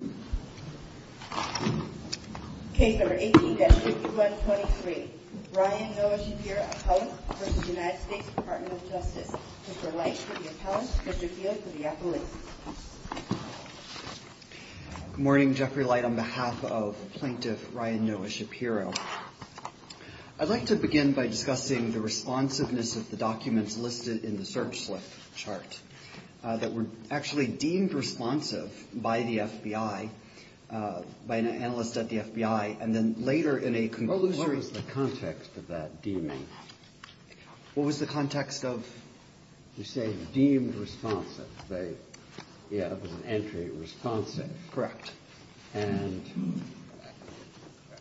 Good morning, Jeffrey Light on behalf of Plaintiff Ryan Noah Shapiro. I'd like to begin by discussing the responsiveness of the documents listed in the search chart that were actually deemed responsive by the FBI, by an analyst at the FBI, and then later in a conclusion. What was the context of that deeming? What was the context of? You say deemed responsive. Yeah, it was an entry responsive. Correct. And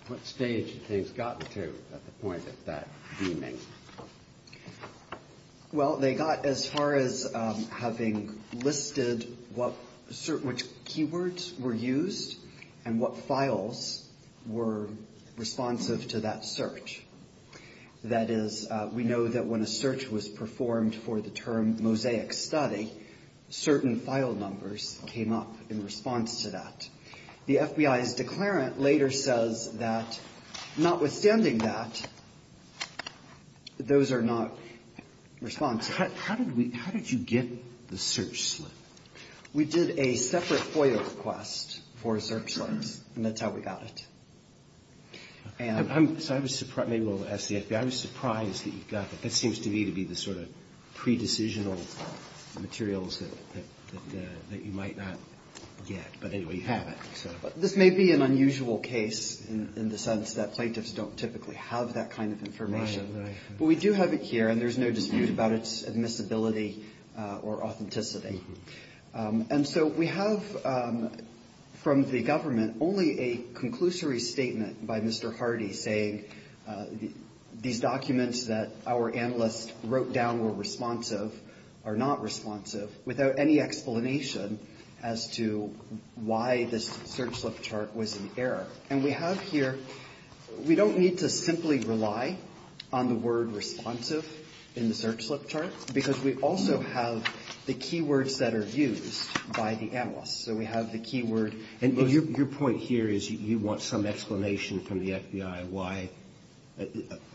what stage had things gotten to at the point of that deeming? Well, they got as far as having listed which keywords were used and what files were responsive to that search. That is, we know that when a search was performed for the term mosaic study, certain file numbers came up in response to that. The FBI's declarant later says that notwithstanding that, those are not responsive. How did we – how did you get the search slip? We did a separate FOIA request for search slips, and that's how we got it. And I'm – so I was – maybe we'll ask the FBI. I was surprised that you got that. That seems to me to be the sort of pre-decisional materials that you might not get. But anyway, you have it. This may be an unusual case in the sense that plaintiffs don't typically have that kind of information. But we do have it here, and there's no dispute about its admissibility or authenticity. And so we have from the government only a conclusory statement by Mr. Hardy saying these documents that our analysts wrote down were responsive are not responsive without any explanation as to why this search slip chart was in error. And we have here – we don't need to simply rely on the word responsive in the search slip chart, because we also have the keywords that are used by the analysts. So we have the keyword. And your point here is you want some explanation from the FBI why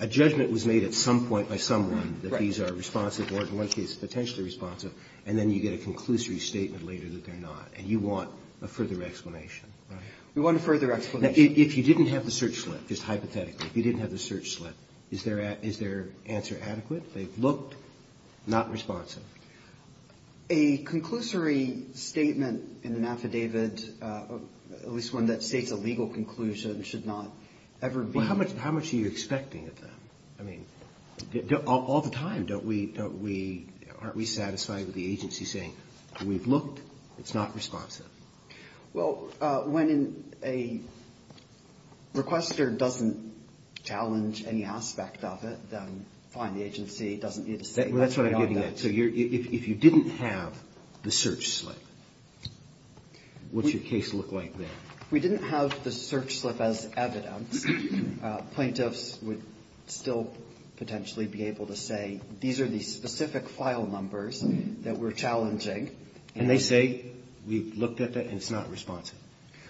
a judgment was made at some point by someone that these are responsive or in one case potentially responsive, and then you get a conclusory statement later that they're not. And you want a further explanation. We want a further explanation. Now, if you didn't have the search slip, just hypothetically, if you didn't have the search slip, is their answer adequate? They've looked. Not responsive. A conclusory statement in an affidavit, at least one that states a legal conclusion, should not ever be. Well, how much are you expecting of them? I mean, all the time, don't we – aren't we satisfied with the agency saying, we've looked. It's not responsive. Well, when a requester doesn't challenge any aspect of it, then fine, the agency doesn't need to say that. That's what I'm getting at. So if you didn't have the search slip, what's your case look like then? If we didn't have the search slip as evidence, plaintiffs would still potentially be able to say, these are the specific file numbers that we're challenging. And they say, we've looked at it, and it's not responsive.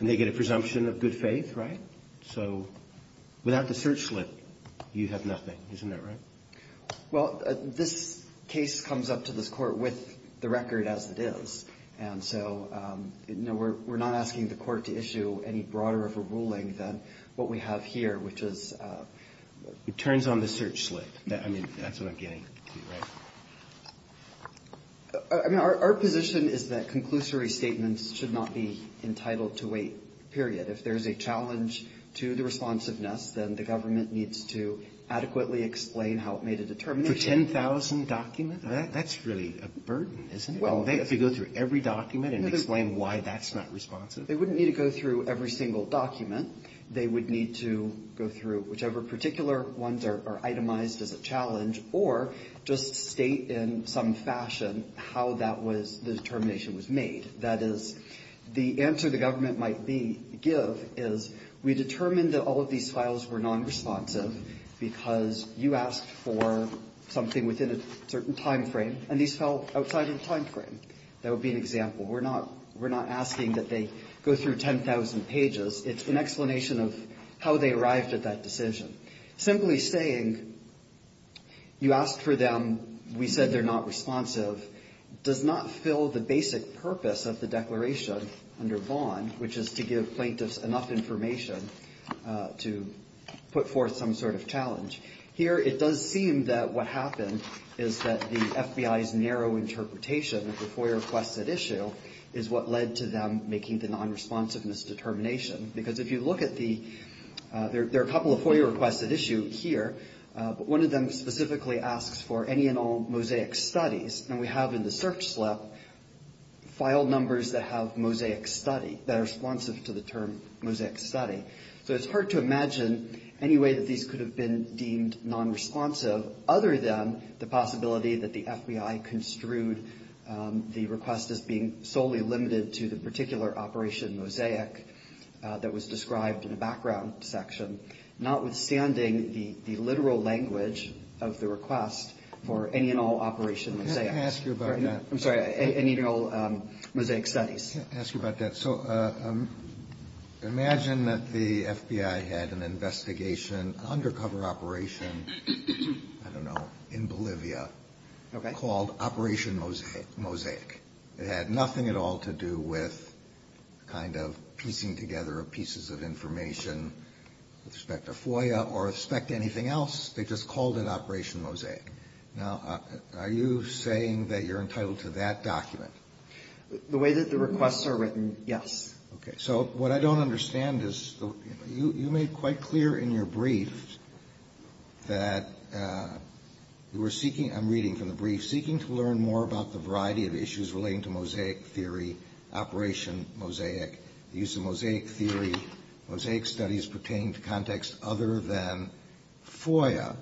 And they get a presumption of good faith, right? So without the search slip, you have nothing. Isn't that right? Well, this case comes up to this court with the record as it is. And so, no, we're not asking the court to issue any broader of a ruling than what we have here, which is... It turns on the search slip. I mean, that's what I'm getting to, right? I mean, our position is that conclusory statements should not be entitled to wait, period. If there's a challenge to the responsiveness, then the government needs to adequately explain how it made a determination. For 10,000 documents? That's really a burden, isn't it? Well... If you go through every document and explain why that's not responsive. They wouldn't need to go through every single document. They would need to go through whichever particular ones are itemized as a challenge or just state in some fashion how that was, the determination was made. That is, the answer the government might give is, we determined that all of these files were non-responsive because you asked for something within a certain time frame, and these fell outside of the time frame. That would be an example. We're not asking that they go through 10,000 pages. It's an explanation of how they arrived at that decision. Simply saying, you asked for them, we said they're not responsive, does not fill the basic purpose of the declaration under Vaughan, which is to give plaintiffs enough information to put forth some sort of challenge. Here, it does seem that what happened is that the FBI's narrow interpretation of the FOIA-requested issue is what led to them making the non-responsiveness determination. Because if you look at the, there are a couple of FOIA-requested issues here, but one of them specifically asks for any and all mosaic studies. We have in the search slip file numbers that have mosaic study, that are responsive to the term mosaic study. It's hard to imagine any way that these could have been deemed non-responsive, other than the possibility that the FBI construed the request as being solely limited to the particular operation mosaic that was described in the background section, notwithstanding the literal language of the request for any and all operation mosaic. Let me ask you about that. I'm sorry, any and all mosaic studies. Let me ask you about that. So imagine that the FBI had an investigation, an undercover operation, I don't know, in Bolivia, called Operation Mosaic. It had nothing at all to do with kind of piecing together pieces of information with respect to FOIA or with respect to anything else. They just called it Operation Mosaic. Now, are you saying that you're entitled to that document? The way that the requests are written, yes. Okay. So what I don't understand is you made quite clear in your brief that you were seeking, I'm reading from the brief, seeking to learn more about the variety of issues relating to mosaic theory, operation mosaic, the use of mosaic theory, mosaic studies pertaining to contexts other than FOIA.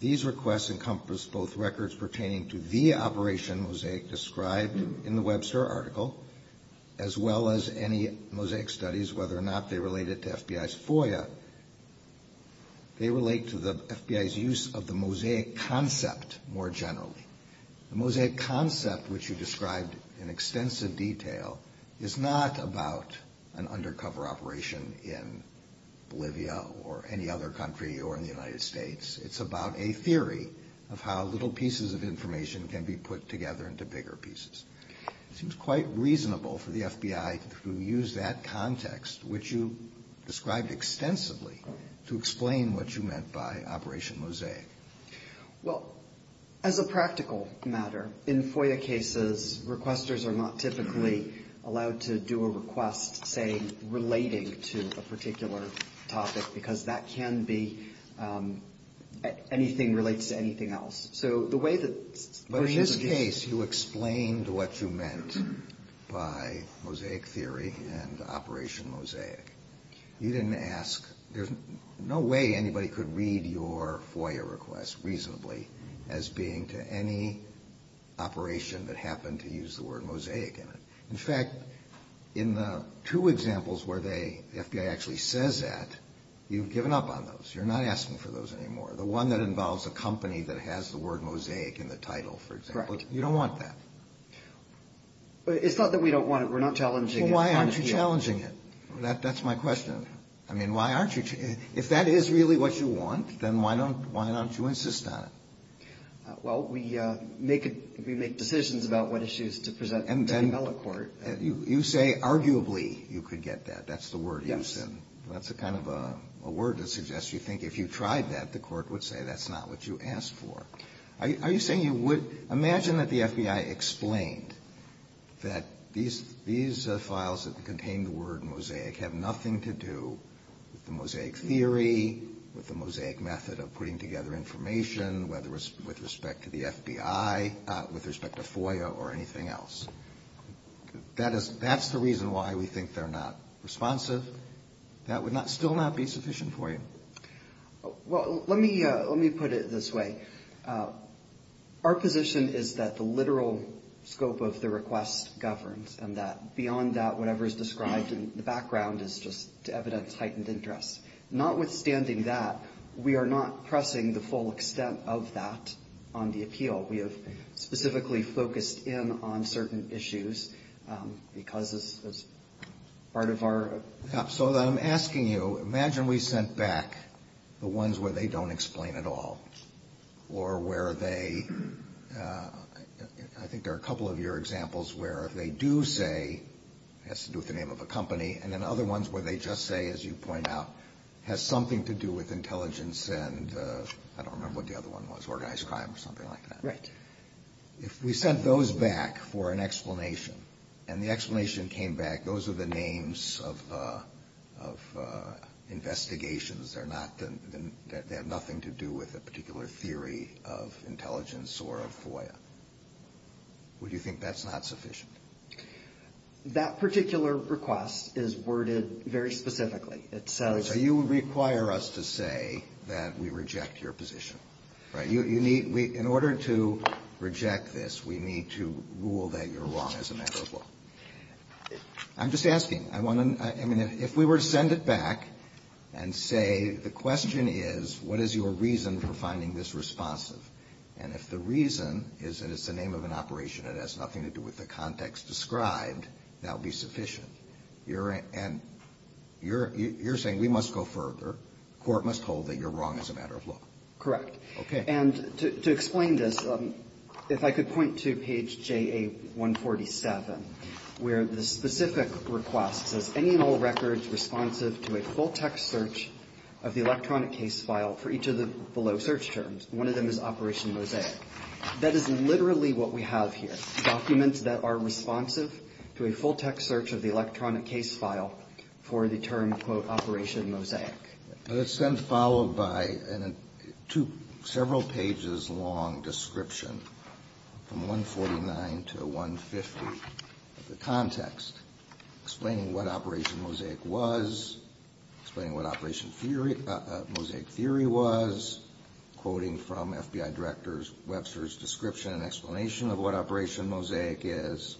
These requests encompass both records pertaining to the operation mosaic described in the Webster article as well as any mosaic studies, whether or not they related to FBI's FOIA. They relate to the FBI's use of the mosaic concept more generally. The mosaic concept, which you described in extensive detail, is not about an undercover operation in Bolivia or any other country or in the United States. It's about a theory of how little pieces of information can be put together into bigger pieces. It seems quite reasonable for the FBI to use that context, which you described extensively, to explain what you meant by Operation Mosaic. Well, as a practical matter, in FOIA cases, requesters are not typically allowed to do a request, say, relating to a particular topic, because that can be anything that relates to anything else. So the way that – But in this case, you explained what you meant by mosaic theory and Operation Mosaic. You didn't ask – there's no way anybody could read your FOIA request reasonably as being to any operation that happened to use the word mosaic in it. In fact, in the two examples where they – the FBI actually says that, you've given up on those. You're not asking for those anymore. The one that involves a company that has the word mosaic in the title, for example, you don't want that. It's not that we don't want it. We're not challenging it. Well, why aren't you challenging it? That's my question. I mean, why aren't you – if that is really what you want, then why don't you insist on it? Well, we make decisions about what issues to present to the Mellon court. And you say arguably you could get that. That's the word you said. Yes. That's kind of a word to suggest you think if you tried that, the court would say that's not what you asked for. Are you saying you would – imagine that the FBI explained that these files that contain the word mosaic have nothing to do with the mosaic theory, with the mosaic method of putting together information, whether it's with respect to the FBI, with respect to FOIA or anything else. That's the reason why we think they're not responsive. That would still not be sufficient for you. Well, let me put it this way. Our position is that the literal scope of the request governs and that beyond that, whatever is described in the background is just evidence of heightened interest. Notwithstanding that, we are not pressing the full extent of that on the appeal. We have specifically focused in on certain issues because it's part of our – So I'm asking you, imagine we sent back the ones where they don't explain at all or where they – I think there are a couple of your examples where they do say it has to do with the name of a company and then other ones where they just say, as you point out, has something to do with intelligence and – I don't remember what the other one was, organized crime or something like that. Right. If we sent those back for an explanation and the explanation came back, those are the names of investigations. They're not – they have nothing to do with a particular theory of intelligence or of FOIA. Would you think that's not sufficient? That particular request is worded very specifically. It says – So you would require us to say that we reject your position, right? You need – in order to reject this, we need to rule that you're wrong as a matter of law. I'm just asking. I mean, if we were to send it back and say the question is, what is your reason for finding this responsive? And if the reason is that it's the name of an operation that has nothing to do with the context described, that would be sufficient. You're – and you're saying we must go further. The court must hold that you're wrong as a matter of law. Correct. Okay. And to explain this, if I could point to page JA-147, where the specific request says, any and all records responsive to a full-text search of the electronic case file for each of the below search terms, one of them is Operation Mosaic, that is literally what we have here, documents that are responsive to a full-text search of the electronic case file for the term, quote, Operation Mosaic. It's then followed by a two – several pages long description from 149 to 150 of the context, explaining what Operation Mosaic was, explaining what Operation Mosaic theory was, quoting from FBI Director Webster's description and explanation of what Operation Mosaic is.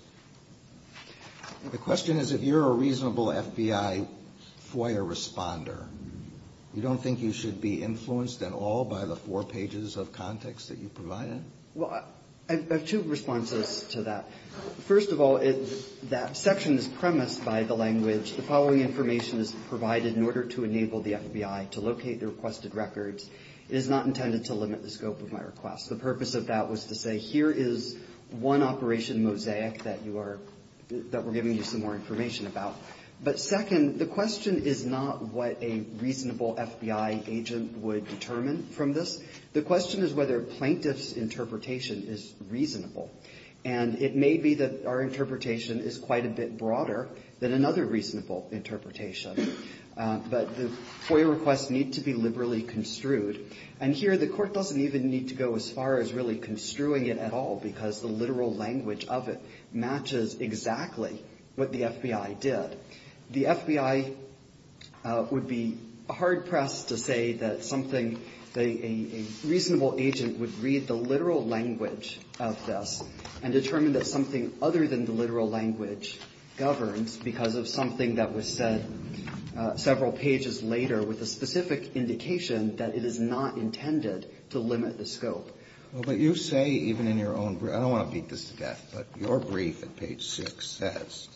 The question is, if you're a reasonable FBI FOIA responder, you don't think you should be influenced at all by the four pages of context that you provided? Well, I have two responses to that. First of all, that section is premised by the language, the following information is provided in order to enable the FBI to locate the requested records. It is not intended to limit the scope of my request. The purpose of that was to say, here is one Operation Mosaic that you are – that we're giving you some more information about. But second, the question is not what a reasonable FBI agent would determine from this. The question is whether a plaintiff's interpretation is reasonable. And it may be that our interpretation is quite a bit broader than another reasonable interpretation. But the FOIA requests need to be liberally construed. And here, the Court doesn't even need to go as far as really construing it at all, because the literal language of it matches exactly what the FBI did. The FBI would be hard-pressed to say that something – that a reasonable agent would read the literal language of this and determine that something other than the literal language governs because of something that was said several pages later with a specific indication that it is not intended to limit the scope. Well, but you say, even in your own – I don't want to beat this to death, but your brief at page 6 says,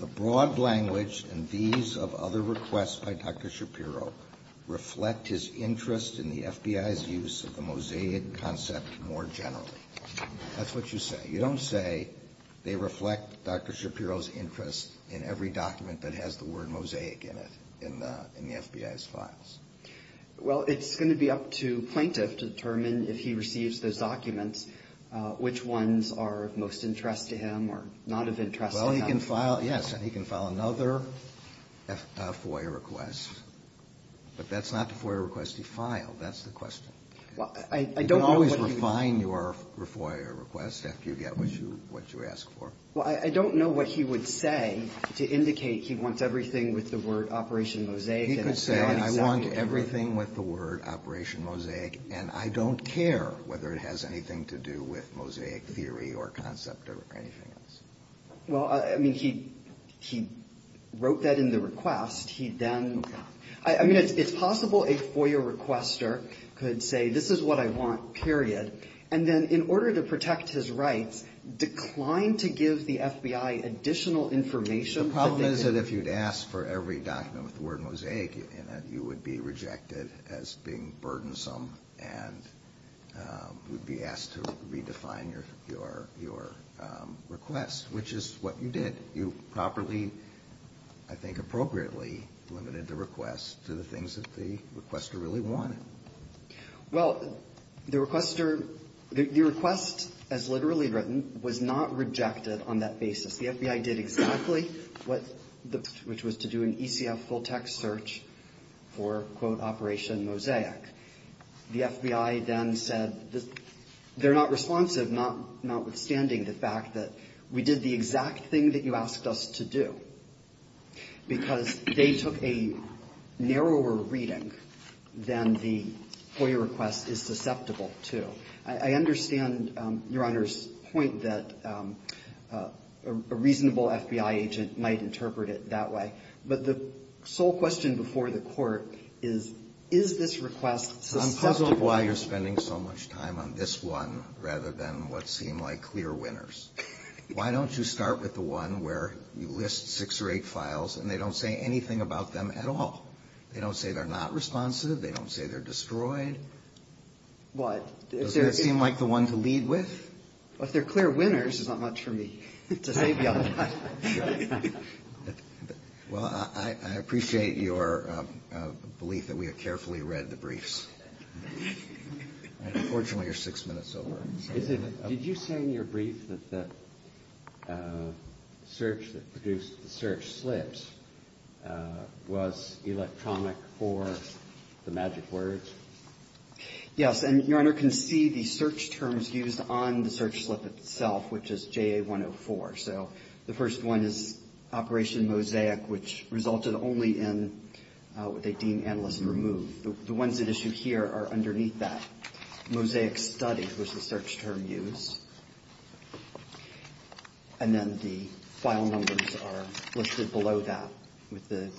the broad language and these of other requests by Dr. Shapiro reflect his interest in the FBI's use of the Mosaic concept more generally. That's what you say. You don't say they reflect Dr. Shapiro's interest in every document that has the word Mosaic in it, in the FBI's files. Well, it's going to be up to plaintiff to determine if he receives those documents, which ones are of most interest to him or not of interest to him. He can file – yes, and he can file another FOIA request. But that's not the FOIA request he filed. That's the question. Well, I don't know what he – You can always refine your FOIA request after you get what you ask for. Well, I don't know what he would say to indicate he wants everything with the word Operation Mosaic. He could say, I want everything with the word Operation Mosaic, and I don't care whether it has anything to do with Mosaic theory or concept or anything else. Well, I mean, he wrote that in the request. He then – I mean, it's possible a FOIA requester could say, this is what I want, period, and then in order to protect his rights, decline to give the FBI additional information. The problem is that if you'd ask for every document with the word Mosaic in it, you would be rejected as being burdensome and would be asked to redefine your request, which is what you did. You properly, I think appropriately, limited the request to the things that the requester really wanted. Well, the requester – the request, as literally written, was not rejected on that basis. The FBI did exactly what – which was to do an ECF full-text search for, quote, Operation Mosaic. The FBI then said they're not responsive, notwithstanding the fact that we did the exact thing that you asked us to do, because they took a narrower reading than the FOIA request is susceptible to. So I understand, Your Honor's point that a reasonable FBI agent might interpret it that way. But the sole question before the Court is, is this request susceptible? I'm puzzled why you're spending so much time on this one rather than what seem like clear winners. Why don't you start with the one where you list six or eight files and they don't say anything about them at all? They don't say they're not responsive. They don't say they're destroyed. What? Doesn't that seem like the one to lead with? Well, if they're clear winners, it's not much for me to say beyond that. Well, I appreciate your belief that we have carefully read the briefs. Unfortunately, you're six minutes over. Did you say in your brief that the search that produced the search slips was electronic for the magic words? Yes. And Your Honor can see the search terms used on the search slip itself, which is JA-104. So the first one is Operation Mosaic, which resulted only in what they deemed analyst-removed. The ones that issue here are underneath that. Mosaic Study was the search term used. And then the file numbers are listed below that with the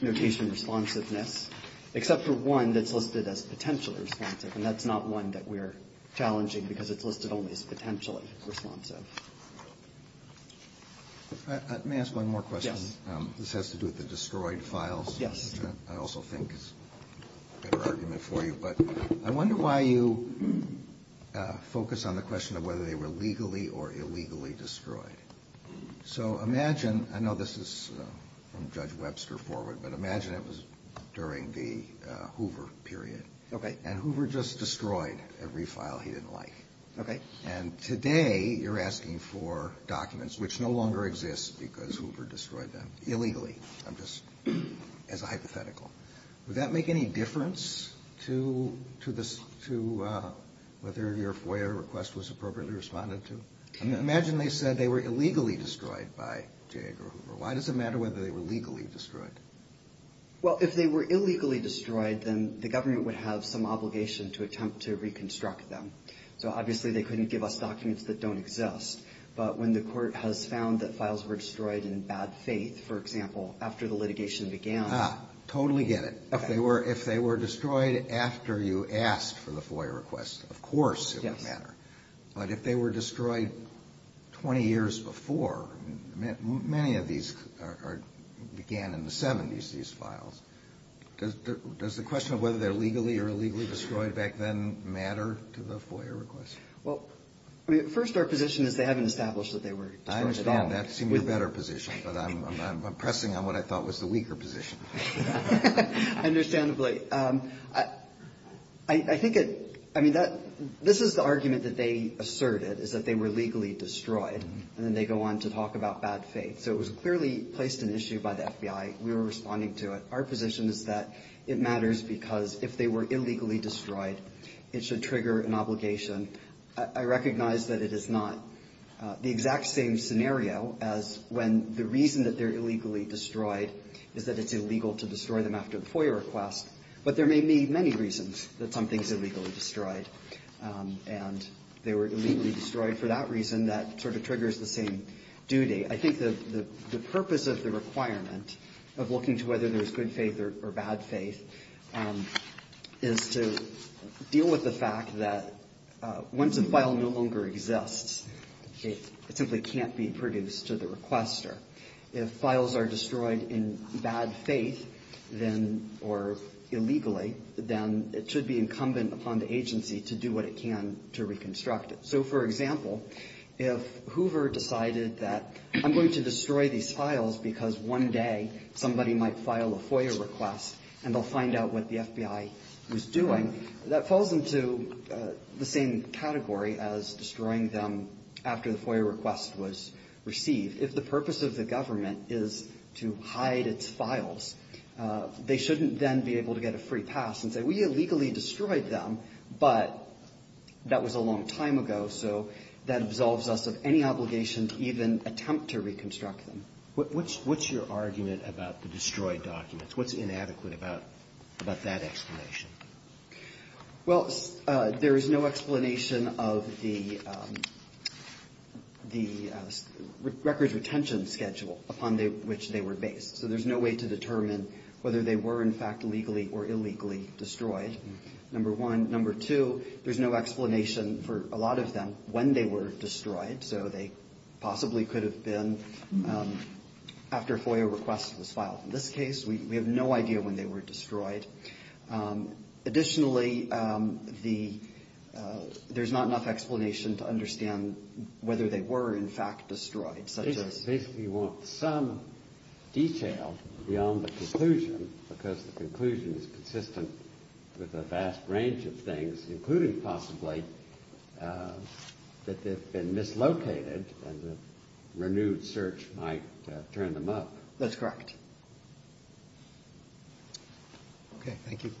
notation responsiveness, except for one that's listed as potentially responsive, and that's not one that we're challenging because it's listed only as potentially responsive. May I ask one more question? Yes. This has to do with the destroyed files. Yes. Which I also think is a better argument for you. But I wonder why you focus on the question of whether they were legally or illegally destroyed. So imagine, I know this is from Judge Webster forward, but imagine it was during the Hoover period. Okay. And Hoover just destroyed every file he didn't like. Okay. And today you're asking for documents which no longer exist because Hoover destroyed them illegally. I'm just, as a hypothetical. Would that make any difference to whether your FOIA request was appropriately responded to? Imagine they said they were illegally destroyed by J. Edgar Hoover. Why does it matter whether they were legally destroyed? Well, if they were illegally destroyed, then the government would have some obligation to attempt to reconstruct them. So obviously they couldn't give us documents that don't exist. But when the court has found that files were destroyed in bad faith, for example, after the litigation began. Totally get it. If they were destroyed after you asked for the FOIA request, of course it would matter. Yes. But if they were destroyed 20 years before, many of these began in the 70s, these files. Does the question of whether they're legally or illegally destroyed back then matter to the FOIA request? Well, I mean, first our position is they haven't established that they were destroyed at all. I understand. That seems a better position. But I'm pressing on what I thought was the weaker position. Understandably. I think it, I mean, this is the argument that they asserted, is that they were legally destroyed. And then they go on to talk about bad faith. So it was clearly placed an issue by the FBI. We were responding to it. Our position is that it matters because if they were illegally destroyed, it should trigger an obligation. I recognize that it is not the exact same scenario as when the reason that they're illegally destroyed is that it's illegal to destroy them after a FOIA request. But there may be many reasons that something's illegally destroyed. And they were illegally destroyed for that reason. That sort of triggers the same duty. I think the purpose of the requirement of looking to whether there's good faith or bad faith is to deal with the fact that once a file no longer exists, it simply can't be produced to the requester. If files are destroyed in bad faith, then, or illegally, then it should be incumbent upon the agency to do what it can to reconstruct it. So, for example, if Hoover decided that I'm going to destroy these files because one day somebody might file a FOIA request and they'll find out what the FBI was doing, that falls into the same category as destroying them after the FOIA request was received. If the purpose of the government is to hide its files, they shouldn't then be able to get a free pass and say, we illegally destroyed them, but that was a long time ago. So that absolves us of any obligation to even attempt to reconstruct them. What's your argument about the destroyed documents? What's inadequate about that explanation? Well, there is no explanation of the records retention schedule upon which they were based. So there's no way to determine whether they were, in fact, legally or illegally destroyed, number one. Number two, there's no explanation for a lot of them when they were destroyed. So they possibly could have been after a FOIA request was filed. In this case, we have no idea when they were destroyed. Additionally, there's not enough explanation to understand whether they were, in fact, destroyed. Basically, you want some detail beyond the conclusion because the conclusion is consistent with a vast range of things, including possibly that they've been mislocated and the renewed search might turn them up. That's correct. Okay. Thank you.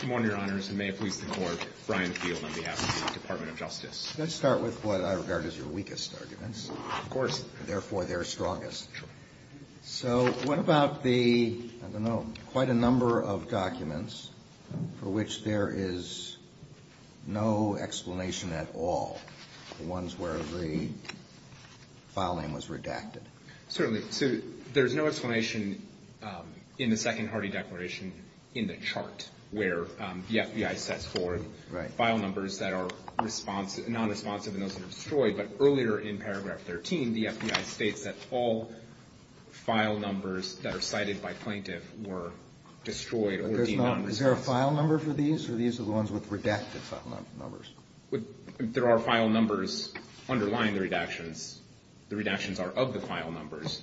Good morning, Your Honors, and may it please the Court, Brian Field on behalf of the Department of Justice. Let's start with what I regard as your weakest arguments. Of course. Therefore, their strongest. Sure. So what about the, I don't know, quite a number of documents for which there is no explanation at all, the ones where the file name was redacted? Certainly. So there's no explanation in the Second Hardy Declaration in the chart where the FBI sets forward file numbers that are non-responsive and those that are destroyed. But earlier in paragraph 13, the FBI states that all file numbers that are cited by plaintiff were destroyed or deemed non-responsive. Is there a file number for these, or these are the ones with redacted file numbers? There are file numbers underlying the redactions. The redactions are of the file numbers.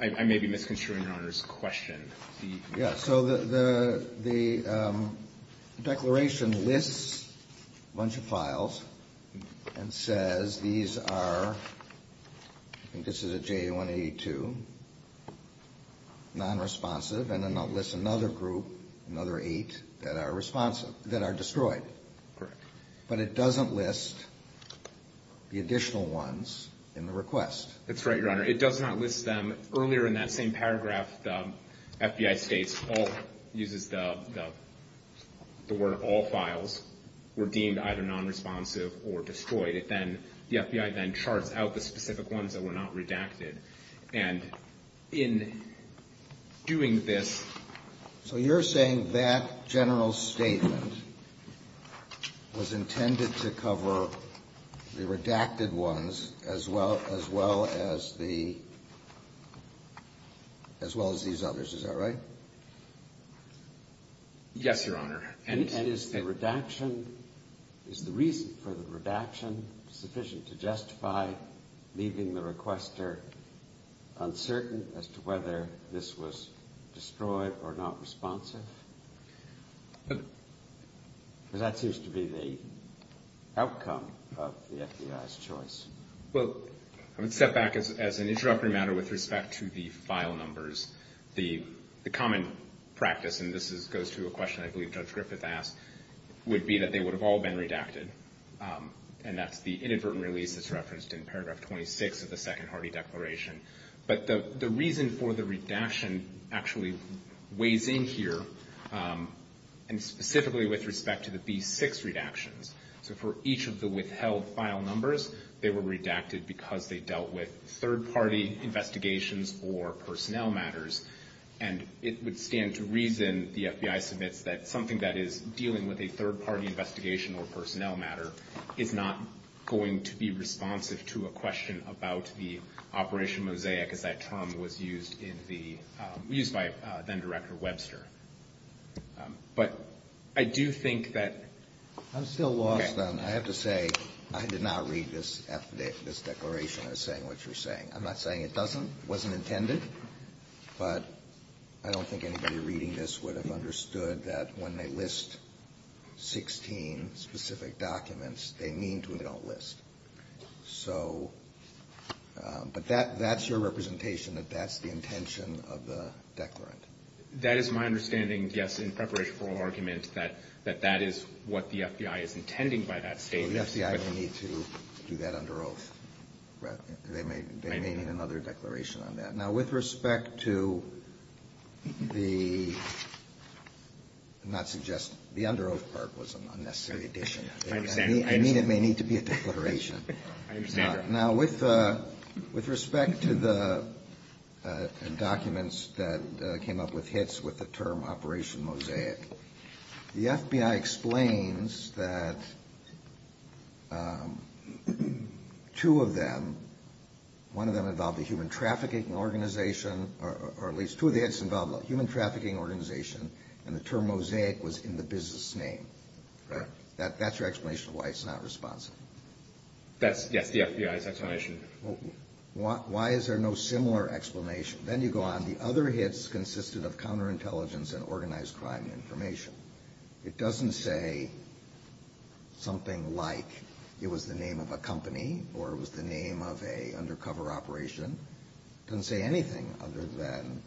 I may be misconstruing Your Honor's question. Yeah, so the declaration lists a bunch of files and says these are, I think this is a J182, non-responsive, and then it lists another group, another eight, that are destroyed. Correct. But it doesn't list the additional ones in the request. That's right, Your Honor. It does not list them. Earlier in that same paragraph, the FBI states all, uses the word all files, were deemed either non-responsive or destroyed. The FBI then charts out the specific ones that were not redacted. So you're saying that general statement was intended to cover the redacted ones as well as the, as well as these others. Is that right? Yes, Your Honor. And is the redaction, is the reason for the redaction sufficient to justify leaving the requester uncertain as to whether this was destroyed or not responsive? Because that seems to be the outcome of the FBI's choice. Well, I would step back as an introductory matter with respect to the file numbers. The common practice, and this goes to a question I believe Judge Griffith asked, would be that they would have all been redacted. And that's the inadvertent release that's referenced in paragraph 26 of the Second Hardy Declaration. But the reason for the redaction actually weighs in here, and specifically with respect to the B6 redactions. So for each of the withheld file numbers, they were redacted because they dealt with third-party investigations or personnel matters. And it would stand to reason, the FBI submits, that something that is dealing with a third-party investigation or personnel matter is not going to be responsive to a question about the Operation Mosaic, as that term was used in the, used by then-Director Webster. But I do think that... I'm still lost on, I have to say, I did not read this declaration as saying what you're saying. I'm not saying it doesn't, wasn't intended. But I don't think anybody reading this would have understood that when they list 16 specific documents, they mean to and they don't list. So, but that's your representation, that that's the intention of the declarant. That is my understanding, yes, in preparation for argument, that that is what the FBI is intending by that statement. Well, the FBI don't need to do that under oath. They may need another declaration on that. Now, with respect to the, I'm not suggesting, the under oath part was an unnecessary addition. I understand. I mean, it may need to be a declaration. I understand. Now, with respect to the documents that came up with hits with the term Operation Mosaic, the FBI explains that two of them, one of them involved a human trafficking organization, or at least two of the hits involved a human trafficking organization, and the term Mosaic was in the business name. Right. That's your explanation of why it's not responsive. That's, yes, the FBI's explanation. Why is there no similar explanation? Then you go on. The other hits consisted of counterintelligence and organized crime information. It doesn't say something like it was the name of a company or it was the name of an undercover operation. It doesn't say anything other than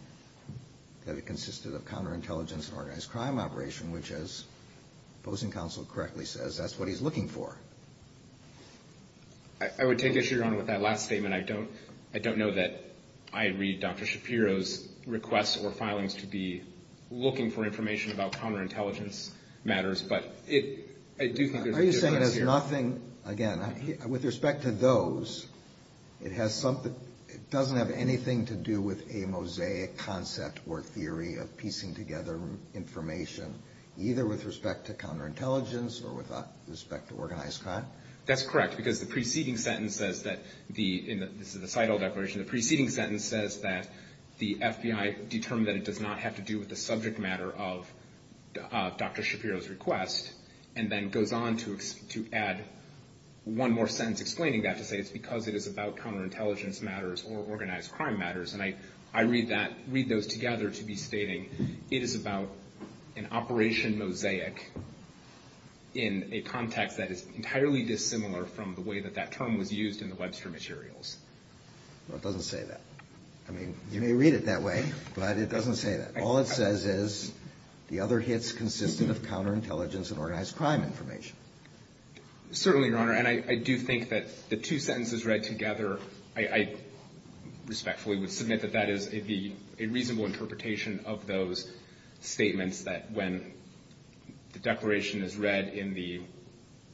that it consisted of counterintelligence and organized crime operation, which, as opposing counsel correctly says, that's what he's looking for. I would take issue, Your Honor, with that last statement. I don't know that I read Dr. Shapiro's requests or filings to be looking for information about counterintelligence matters, but I do think there's a difference here. Are you saying there's nothing, again, with respect to those, it doesn't have anything to do with a Mosaic concept or theory of piecing together information, either with respect to counterintelligence or with respect to organized crime? That's correct, because the preceding sentence says that the, and this is the Seidel Declaration, the preceding sentence says that the FBI determined that it does not have to do with the subject matter of Dr. Shapiro's request, and then goes on to add one more sentence explaining that to say it's because it is about counterintelligence matters or organized crime matters, and I read that, read those together to be stating it is about an operation Mosaic in a context that is entirely dissimilar from the way that that term was used in the Webster materials. No, it doesn't say that. I mean, you may read it that way, but it doesn't say that. All it says is the other hits consistent of counterintelligence and organized crime information. Certainly, Your Honor, and I do think that the two sentences read together, I respectfully would submit that that is a reasonable interpretation of those statements that when the declaration is read in the,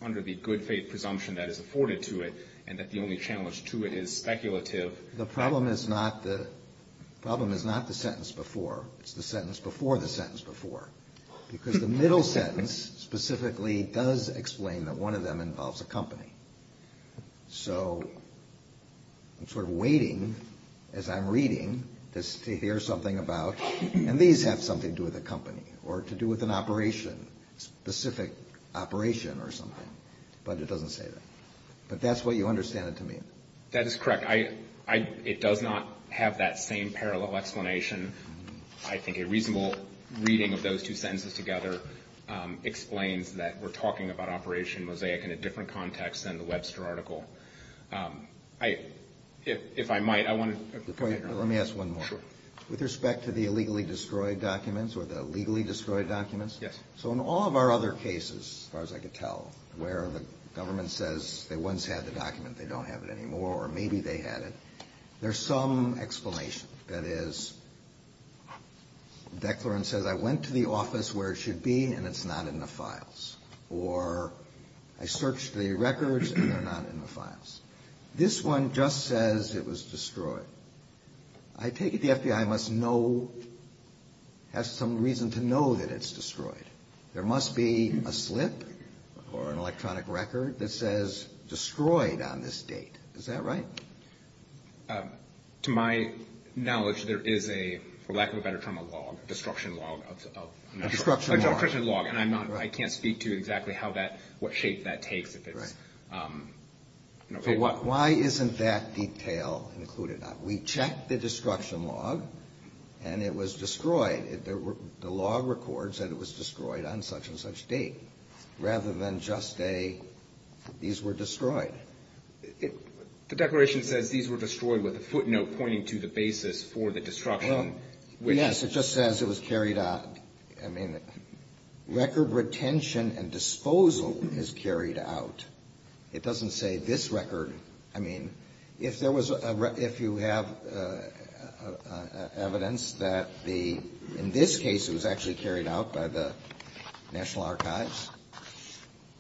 under the good faith presumption that is afforded to it and that the only challenge to it is speculative. The problem is not the sentence before. It's the sentence before the sentence before, because the middle sentence specifically does explain that one of them involves a company. So I'm sort of waiting as I'm reading this to hear something about, and these have something to do with a company or to do with an operation, specific operation or something, but it doesn't say that. But that's what you understand it to mean. That is correct. It does not have that same parallel explanation. I think a reasonable reading of those two sentences together explains that we're talking about Operation Mosaic in a different context than the Webster article. If I might, I want to. Let me ask one more. Sure. With respect to the illegally destroyed documents or the legally destroyed documents. Yes. So in all of our other cases, as far as I could tell, where the government says they once had the document, they don't have it anymore, or maybe they had it, there's some explanation. That is, the declarant says I went to the office where it should be, and it's not in the files. Or I searched the records, and they're not in the files. This one just says it was destroyed. I take it the FBI must know, has some reason to know that it's destroyed. There must be a slip or an electronic record that says destroyed on this date. Is that right? To my knowledge, there is a, for lack of a better term, a log, a destruction log. A destruction log. A destruction log. And I can't speak to exactly how that, what shape that takes. Right. For what? Why isn't that detail included? We checked the destruction log, and it was destroyed. The log records that it was destroyed on such and such date, rather than just a, these were destroyed. The declaration says these were destroyed with a footnote pointing to the basis for the destruction. Well, yes. It just says it was carried out. I mean, record retention and disposal is carried out. It doesn't say this record. I mean, if there was a, if you have evidence that the, in this case it was actually carried out by the National Archives,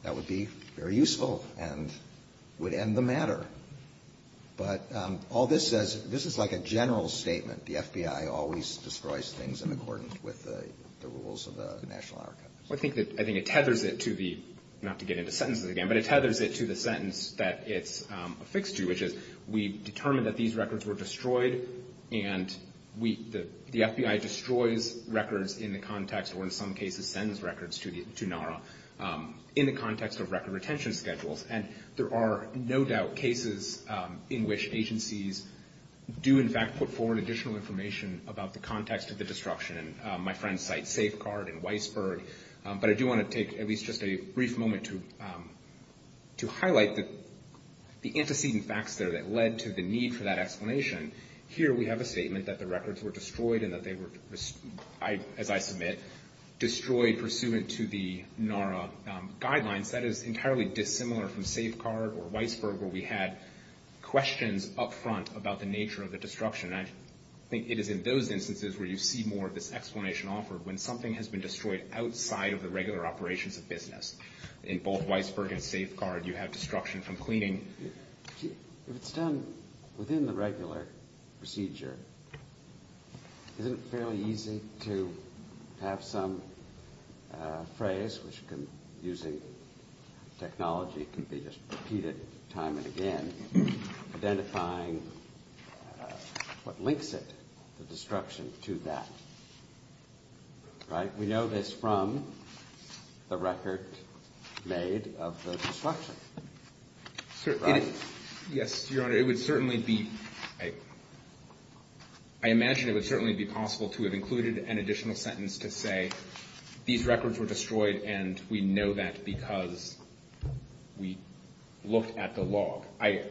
that would be very useful and would end the matter. But all this says, this is like a general statement. The FBI always destroys things in accordance with the rules of the National Archives. I think that, I think it tethers it to the, not to get into sentences again, but it tethers it to the sentence that it's affixed to, which is we determined that these records were destroyed, and we, the FBI destroys records in the context, or in some cases sends records to NARA, in the context of record retention schedules. And there are no doubt cases in which agencies do, in fact, put forward additional information about the context of the destruction. And my friends cite Safeguard and Weisberg. But I do want to take at least just a brief moment to highlight the antecedent facts there that led to the need for that explanation. Here we have a statement that the records were destroyed and that they were, as I submit, destroyed pursuant to the NARA guidelines. That is entirely dissimilar from Safeguard or Weisberg, where we had questions up front about the nature of the destruction. And I think it is in those instances where you see more of this explanation offered, when something has been destroyed outside of the regular operations of business. In both Weisberg and Safeguard, you have destruction from cleaning. If it's done within the regular procedure, isn't it fairly easy to have some phrase, which using technology can be just repeated time and again, identifying what links it, the destruction, to that? Right? We know this from the record made of the destruction. Right? Yes, Your Honor. It would certainly be – I imagine it would certainly be possible to have included an additional sentence to say these records were destroyed and we know that because we looked at the log. I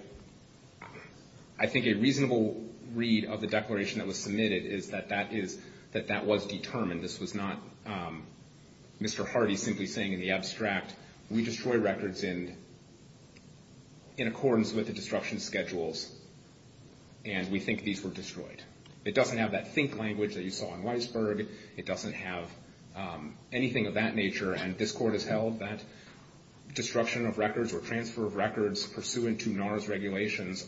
think a reasonable read of the declaration that was submitted is that that was determined. This was not Mr. Hardy simply saying in the abstract, we destroy records in accordance with the destruction schedules and we think these were destroyed. It doesn't have that think language that you saw in Weisberg. It doesn't have anything of that nature. And this Court has held that destruction of records or transfer of records pursuant to NARA's regulations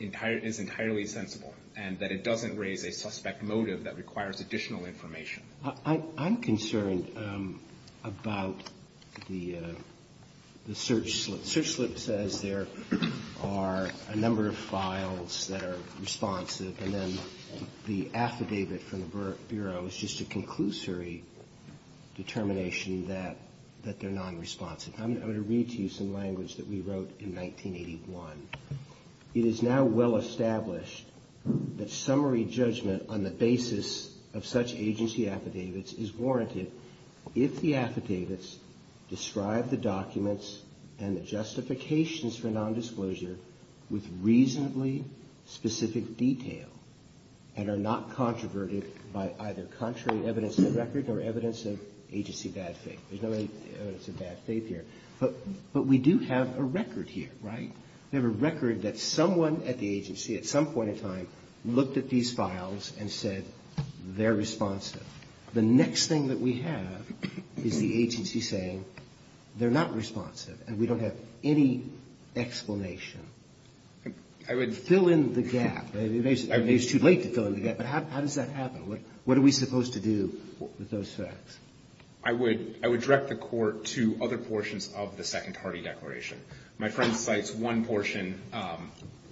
is entirely sensible and that it doesn't raise a suspect motive that requires additional information. I'm concerned about the search slip. The search slip says there are a number of files that are responsive and then the affidavit from the Bureau is just a conclusory determination that they're nonresponsive. I'm going to read to you some language that we wrote in 1981. It is now well established that summary judgment on the basis of such agency affidavits is warranted if the affidavits describe the documents and the justifications for nondisclosure with reasonably specific detail and are not controverted by either contrary evidence of record or evidence of agency bad faith. There's no evidence of bad faith here. But we do have a record here, right? We have a record that someone at the agency at some point in time looked at these files and said they're responsive. The next thing that we have is the agency saying they're not responsive and we don't have any explanation. Fill in the gap. Maybe it's too late to fill in the gap, but how does that happen? What are we supposed to do with those facts? I would direct the Court to other portions of the Second Party Declaration. My friend cites one portion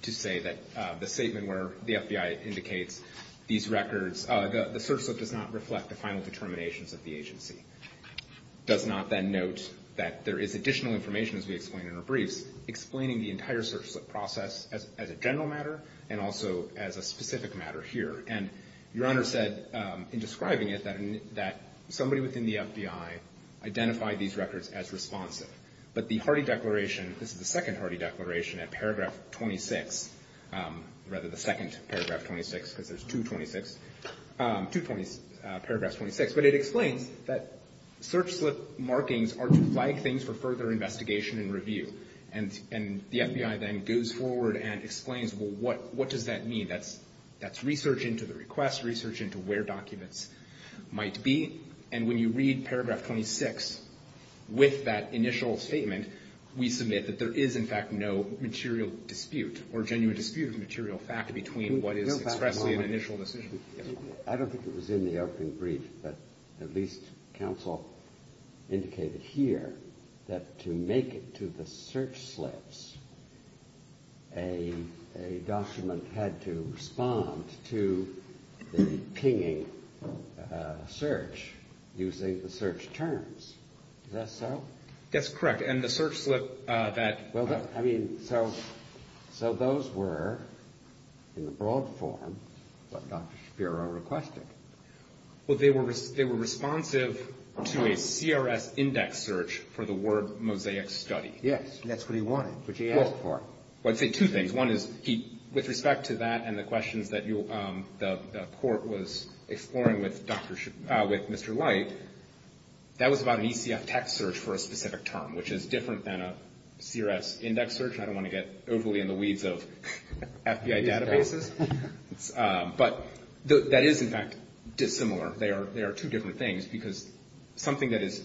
to say that the statement where the FBI indicates these records, the search slip does not reflect the final determinations of the agency. It does not then note that there is additional information, as we explained in our briefs, explaining the entire search slip process as a general matter and also as a specific matter here. And Your Honor said in describing it that somebody within the FBI identified these records as responsive. But the Hardy Declaration, this is the Second Hardy Declaration at paragraph 26, rather the second paragraph 26 because there's two paragraphs 26, but it explains that search slip markings are to flag things for further investigation and review. And the FBI then goes forward and explains, well, what does that mean? That's research into the request, research into where documents might be. And when you read paragraph 26 with that initial statement, we submit that there is, in fact, no material dispute or genuine dispute of material fact between what is expressly an initial decision. I don't think it was in the opening brief, but at least counsel indicated here that to make it to the search slips, a document had to respond to the pinging search using the search terms. Is that so? That's correct. And the search slip that – Well, I mean, so those were, in the broad form, what Dr. Shapiro requested. Well, they were responsive to a CRS index search for the word mosaic study. Yes, and that's what he wanted, which he asked for. Well, I'd say two things. One is with respect to that and the questions that the Court was exploring with Mr. Light, that was about an ECF text search for a specific term, which is different than a CRS index search. I don't want to get overly in the weeds of FBI databases. But that is, in fact, dissimilar. They are two different things because something that is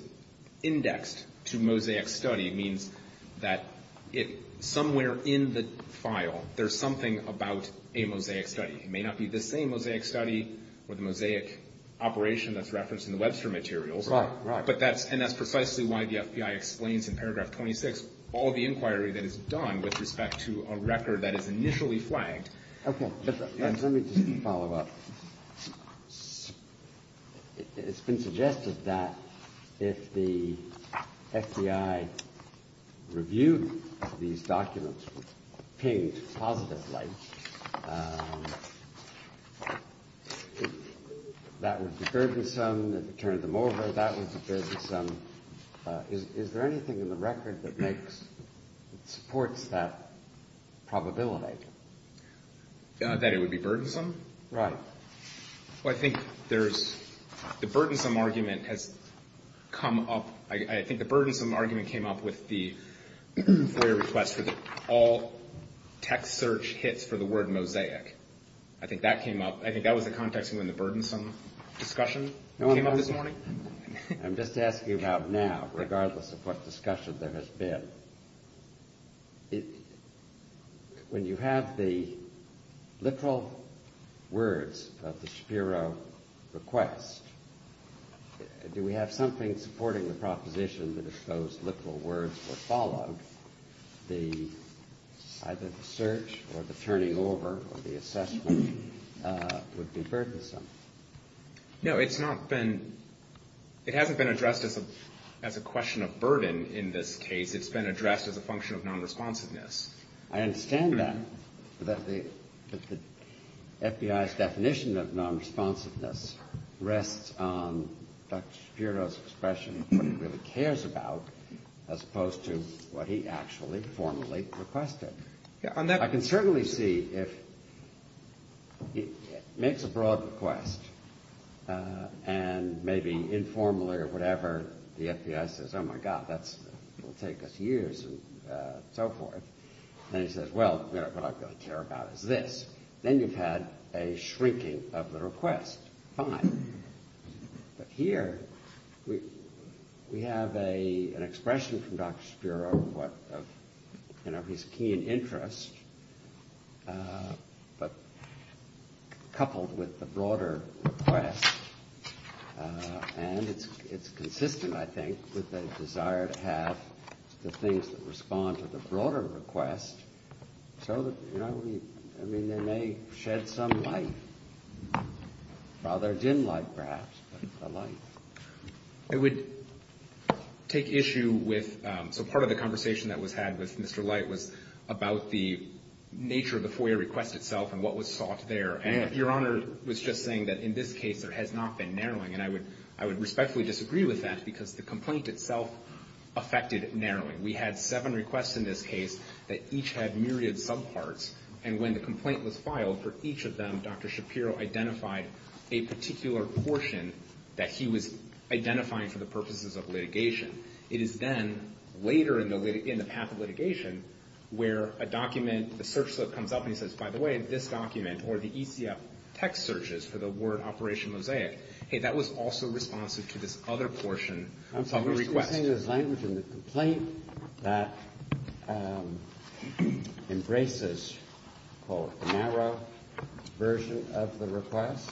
indexed to mosaic study means that somewhere in the file there's something about a mosaic study. It may not be the same mosaic study or the mosaic operation that's referenced in the Webster materials. Right, right. But that's – and that's precisely why the FBI explains in paragraph 26 all the inquiry that is done with respect to a record that is initially flagged. Okay. Let me just follow up. It's been suggested that if the FBI reviewed these documents, pinged positively, that would be burdensome. If it turned them over, that would be burdensome. Is there anything in the record that makes – supports that probability? That it would be burdensome? Right. Well, I think there's – the burdensome argument has come up – I think the burdensome argument came up with the FOIA request for all text search hits for the word mosaic. I think that came up. I think that was the context in which the burdensome discussion came up this morning. I'm just asking about now, regardless of what discussion there has been. But when you have the literal words of the Shapiro request, do we have something supporting the proposition that if those literal words were followed, either the search or the turning over or the assessment would be burdensome? No, it's not been – it hasn't been addressed as a question of burden in this case. It's been addressed as a function of non-responsiveness. I understand that, but the FBI's definition of non-responsiveness rests on Dr. Shapiro's expression of what he really cares about as opposed to what he actually formally requested. I can certainly see if he makes a broad request and maybe informally or whatever the FBI says, oh, my God, that will take us years and so forth. And he says, well, you know, what I really care about is this. Then you've had a shrinking of the request. Fine. But here we have an expression from Dr. Shapiro of, you know, his keen interest, but coupled with the broader request. And it's consistent, I think, with the desire to have the things that respond to the broader request so that, you know, we – I mean, they may shed some light. Rather dim light, perhaps, but a light. I would take issue with – so part of the conversation that was had with Mr. Light was about the nature of the FOIA request itself and what was sought there. And Your Honor was just saying that in this case there has not been narrowing, and I would respectfully disagree with that because the complaint itself affected narrowing. We had seven requests in this case that each had myriad subparts, and when the complaint was filed for each of them, Dr. Shapiro identified a particular portion that he was identifying for the purposes of litigation. It is then later in the path of litigation where a document, a search slip comes up, and he says, by the way, this document or the ECF text searches for the word Operation Mosaic, hey, that was also responsive to this other portion of the request. Are you saying there's language in the complaint that embraces, quote, a narrow version of the request?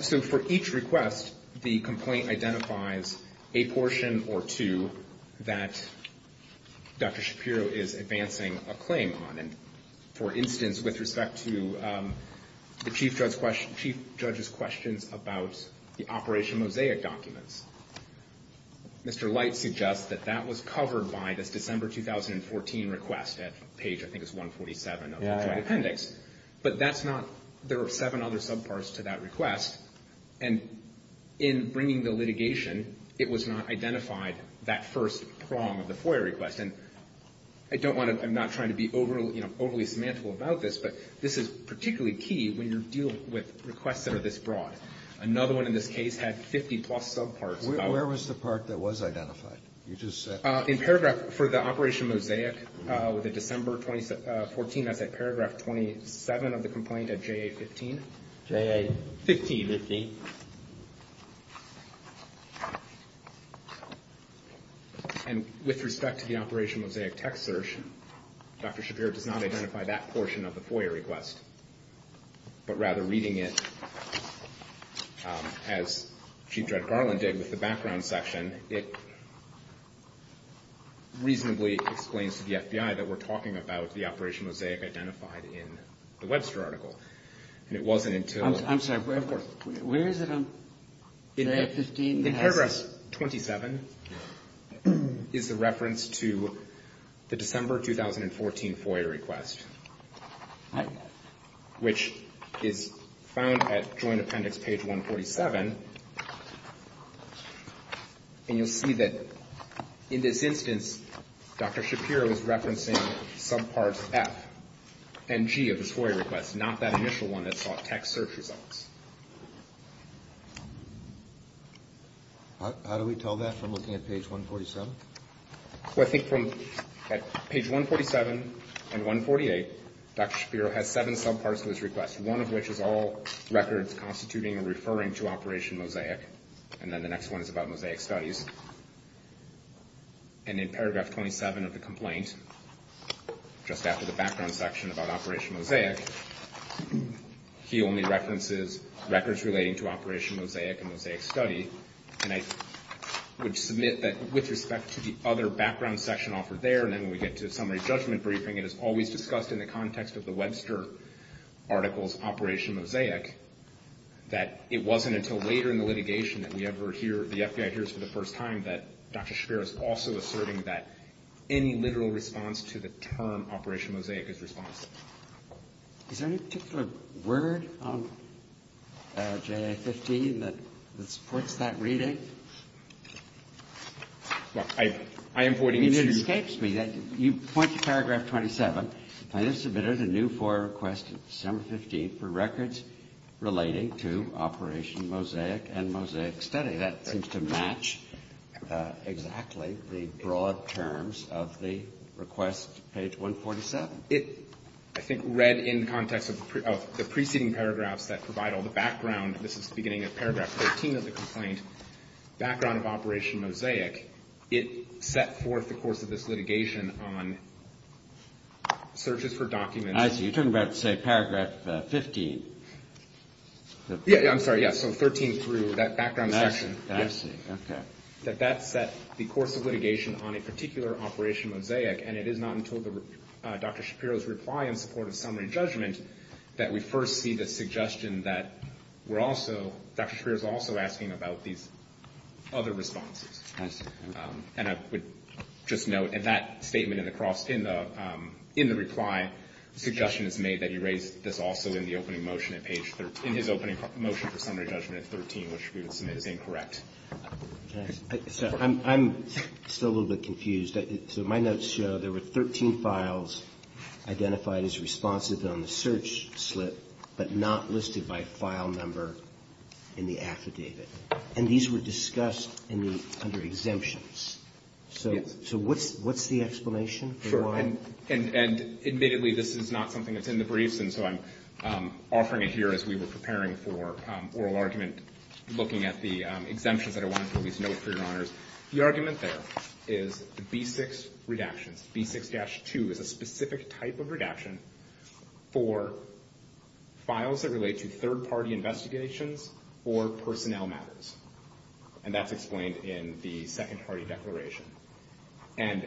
So for each request, the complaint identifies a portion or two that Dr. Shapiro is advancing a claim on. And, for instance, with respect to the Chief Judge's questions about the Operation Mosaic documents, Mr. Light suggests that that was covered by this December 2014 request at page, I think it's 147 of the Joint Appendix. But that's not, there are seven other subparts to that request, and in bringing the litigation, it was not identified that first prong of the FOIA request. And I don't want to, I'm not trying to be overly semantical about this, but this is particularly key when you're dealing with requests that are this broad. Another one in this case had 50-plus subparts. Where was the part that was identified? You just said. In paragraph for the Operation Mosaic, with the December 2014, that's at paragraph 27 of the complaint at JA-15? JA-15. And with respect to the Operation Mosaic text search, Dr. Shapiro does not identify that portion of the FOIA request. But rather reading it as Chief Judge Garland did with the background section, it reasonably explains to the FBI that we're talking about the Operation Mosaic identified in the Webster article. And it wasn't until. I'm sorry, where is it on JA-15? In paragraph 27 is the reference to the December 2014 FOIA request. Right. Which is found at Joint Appendix page 147. And you'll see that in this instance, Dr. Shapiro is referencing subparts F and G of this FOIA request, not that initial one that sought text search results. How do we tell that from looking at page 147? Well, I think from page 147 and 148, Dr. Shapiro has seven subparts of this request, one of which is all records constituting or referring to Operation Mosaic. And then the next one is about Mosaic studies. And in paragraph 27 of the complaint, just after the background section about Operation Mosaic, he only references records relating to Operation Mosaic and Mosaic study. And I would submit that with respect to the other background section offered there, and then when we get to summary judgment briefing, it is always discussed in the context of the Webster article's Operation Mosaic, that it wasn't until later in the litigation that we ever hear, the FBI hears for the first time, that Dr. Shapiro is also asserting that any literal response to the term Operation Mosaic is responsible. Is there any particular word on JA-15 that supports that reading? Well, I am pointing it to you. I mean, it escapes me that you point to paragraph 27. I have submitted a new FOIA request December 15th for records relating to Operation Mosaic and Mosaic study. That seems to match exactly the broad terms of the request, page 147. It, I think, read in context of the preceding paragraphs that provide all the background. This is the beginning of paragraph 13 of the complaint, background of Operation Mosaic. It set forth the course of this litigation on searches for documents. I see. You're talking about, say, paragraph 15. Yeah, yeah, I'm sorry, yeah, so 13 through that background section. I see, okay. That that set the course of litigation on a particular Operation Mosaic, and it is not until Dr. Shapiro's reply in support of summary judgment that we first see the suggestion that we're also, Dr. Shapiro's also asking about these other responses. I see. And I would just note, in that statement in the reply, the suggestion is made that he raised this also in the opening motion at page 13, in his opening motion for summary judgment at 13, which we would submit as incorrect. So I'm still a little bit confused. So my notes show there were 13 files identified as responsive on the search slip, but not listed by file number in the affidavit. And these were discussed under exemptions. Yes. So what's the explanation for why? And admittedly, this is not something that's in the briefs, and so I'm offering it here as we were preparing for oral argument, looking at the exemptions that I wanted to at least note for your honors. The argument there is the B6 redactions, B6-2, is a specific type of redaction for files that relate to third-party investigations or personnel matters. And that's explained in the second-party declaration. And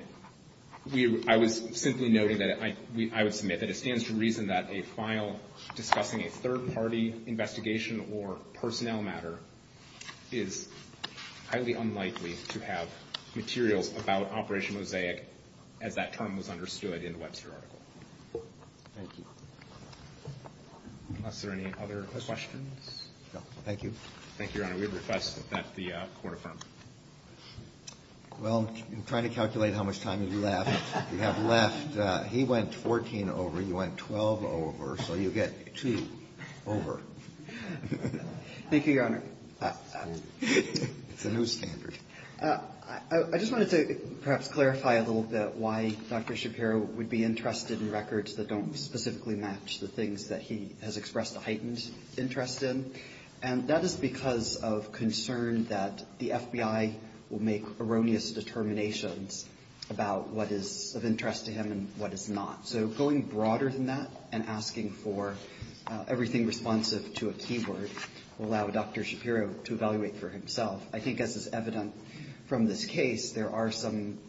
I was simply noting that I would submit that it stands to reason that a file discussing a third-party investigation or personnel matter is highly unlikely to have materials about Operation Mosaic as that term was understood in the Webster article. Thank you. Are there any other questions? No. Thank you. Thank you, Your Honor. We would request that the Court affirm. Well, I'm trying to calculate how much time you have left. You have left. He went 14 over. You went 12 over. So you get two over. Thank you, Your Honor. It's a new standard. I just wanted to perhaps clarify a little bit why Dr. Shapiro would be interested in records that don't specifically match the things that he has expressed a heightened interest in. And that is because of concern that the FBI will make erroneous determinations about what is of interest to him and what is not. So going broader than that and asking for everything responsive to a keyword will allow Dr. Shapiro to evaluate for himself. I think, as is evident from this case, there are some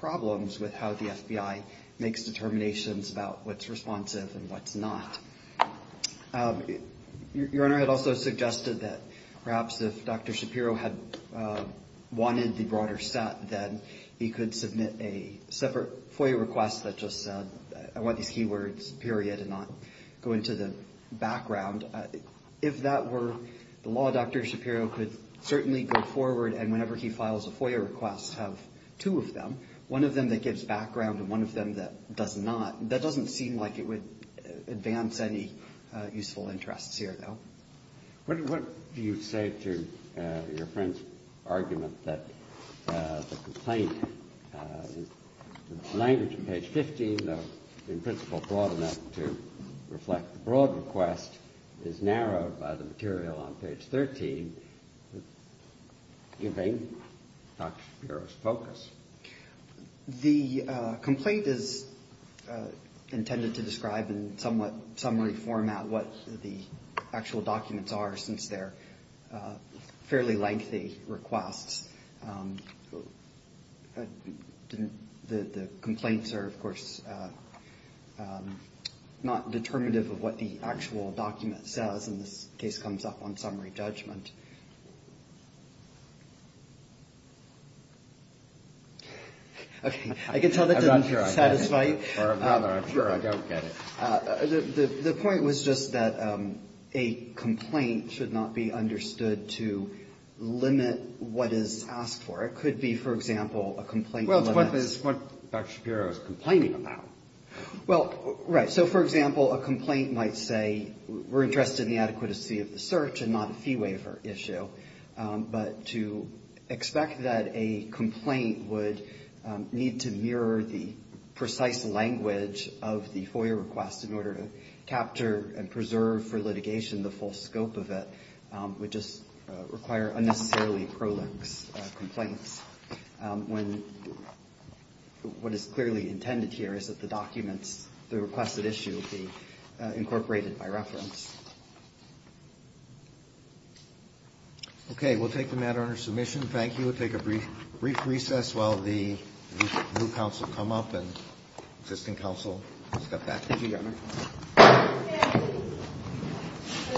problems with how the FBI makes determinations about what's responsive and what's not. Your Honor, I'd also suggested that perhaps if Dr. Shapiro had wanted the broader set, then he could submit a separate FOIA request that just said, I want these keywords, period, and not go into the background. If that were the law, Dr. Shapiro could certainly go forward and whenever he files a FOIA request have two of them, one of them that gives background and one of them that does not. That doesn't seem like it would advance any useful interests here, though. What do you say to your friend's argument that the complaint, the language on page 15, though in principle broad enough to reflect the broad request, is narrowed by the material on page 13, giving Dr. Shapiro's focus? The complaint is intended to describe in somewhat summary format what the actual documents are since they're fairly lengthy requests. The complaints are, of course, not determinative of what the actual document says, and this case comes up on summary judgment. I can tell that doesn't satisfy you. I'm sure I don't get it. The point was just that a complaint should not be understood to limit what is asked for. It could be, for example, a complaint limit. Well, it's what Dr. Shapiro is complaining about. Well, right. So, for example, a complaint might say we're interested in the adequacy of the search and not a fee waiver issue, but to expect that a complaint would need to mirror the precise language of the FOIA request in order to capture and preserve for litigation the full scope of it would just require unnecessarily prolix complaints. What is clearly intended here is that the documents, the requested issue, would be incorporated by reference. Okay. We'll take the matter under submission. Thank you. We'll take a brief recess while the new counsel come up and existing counsel step back. Thank you, Your Honor.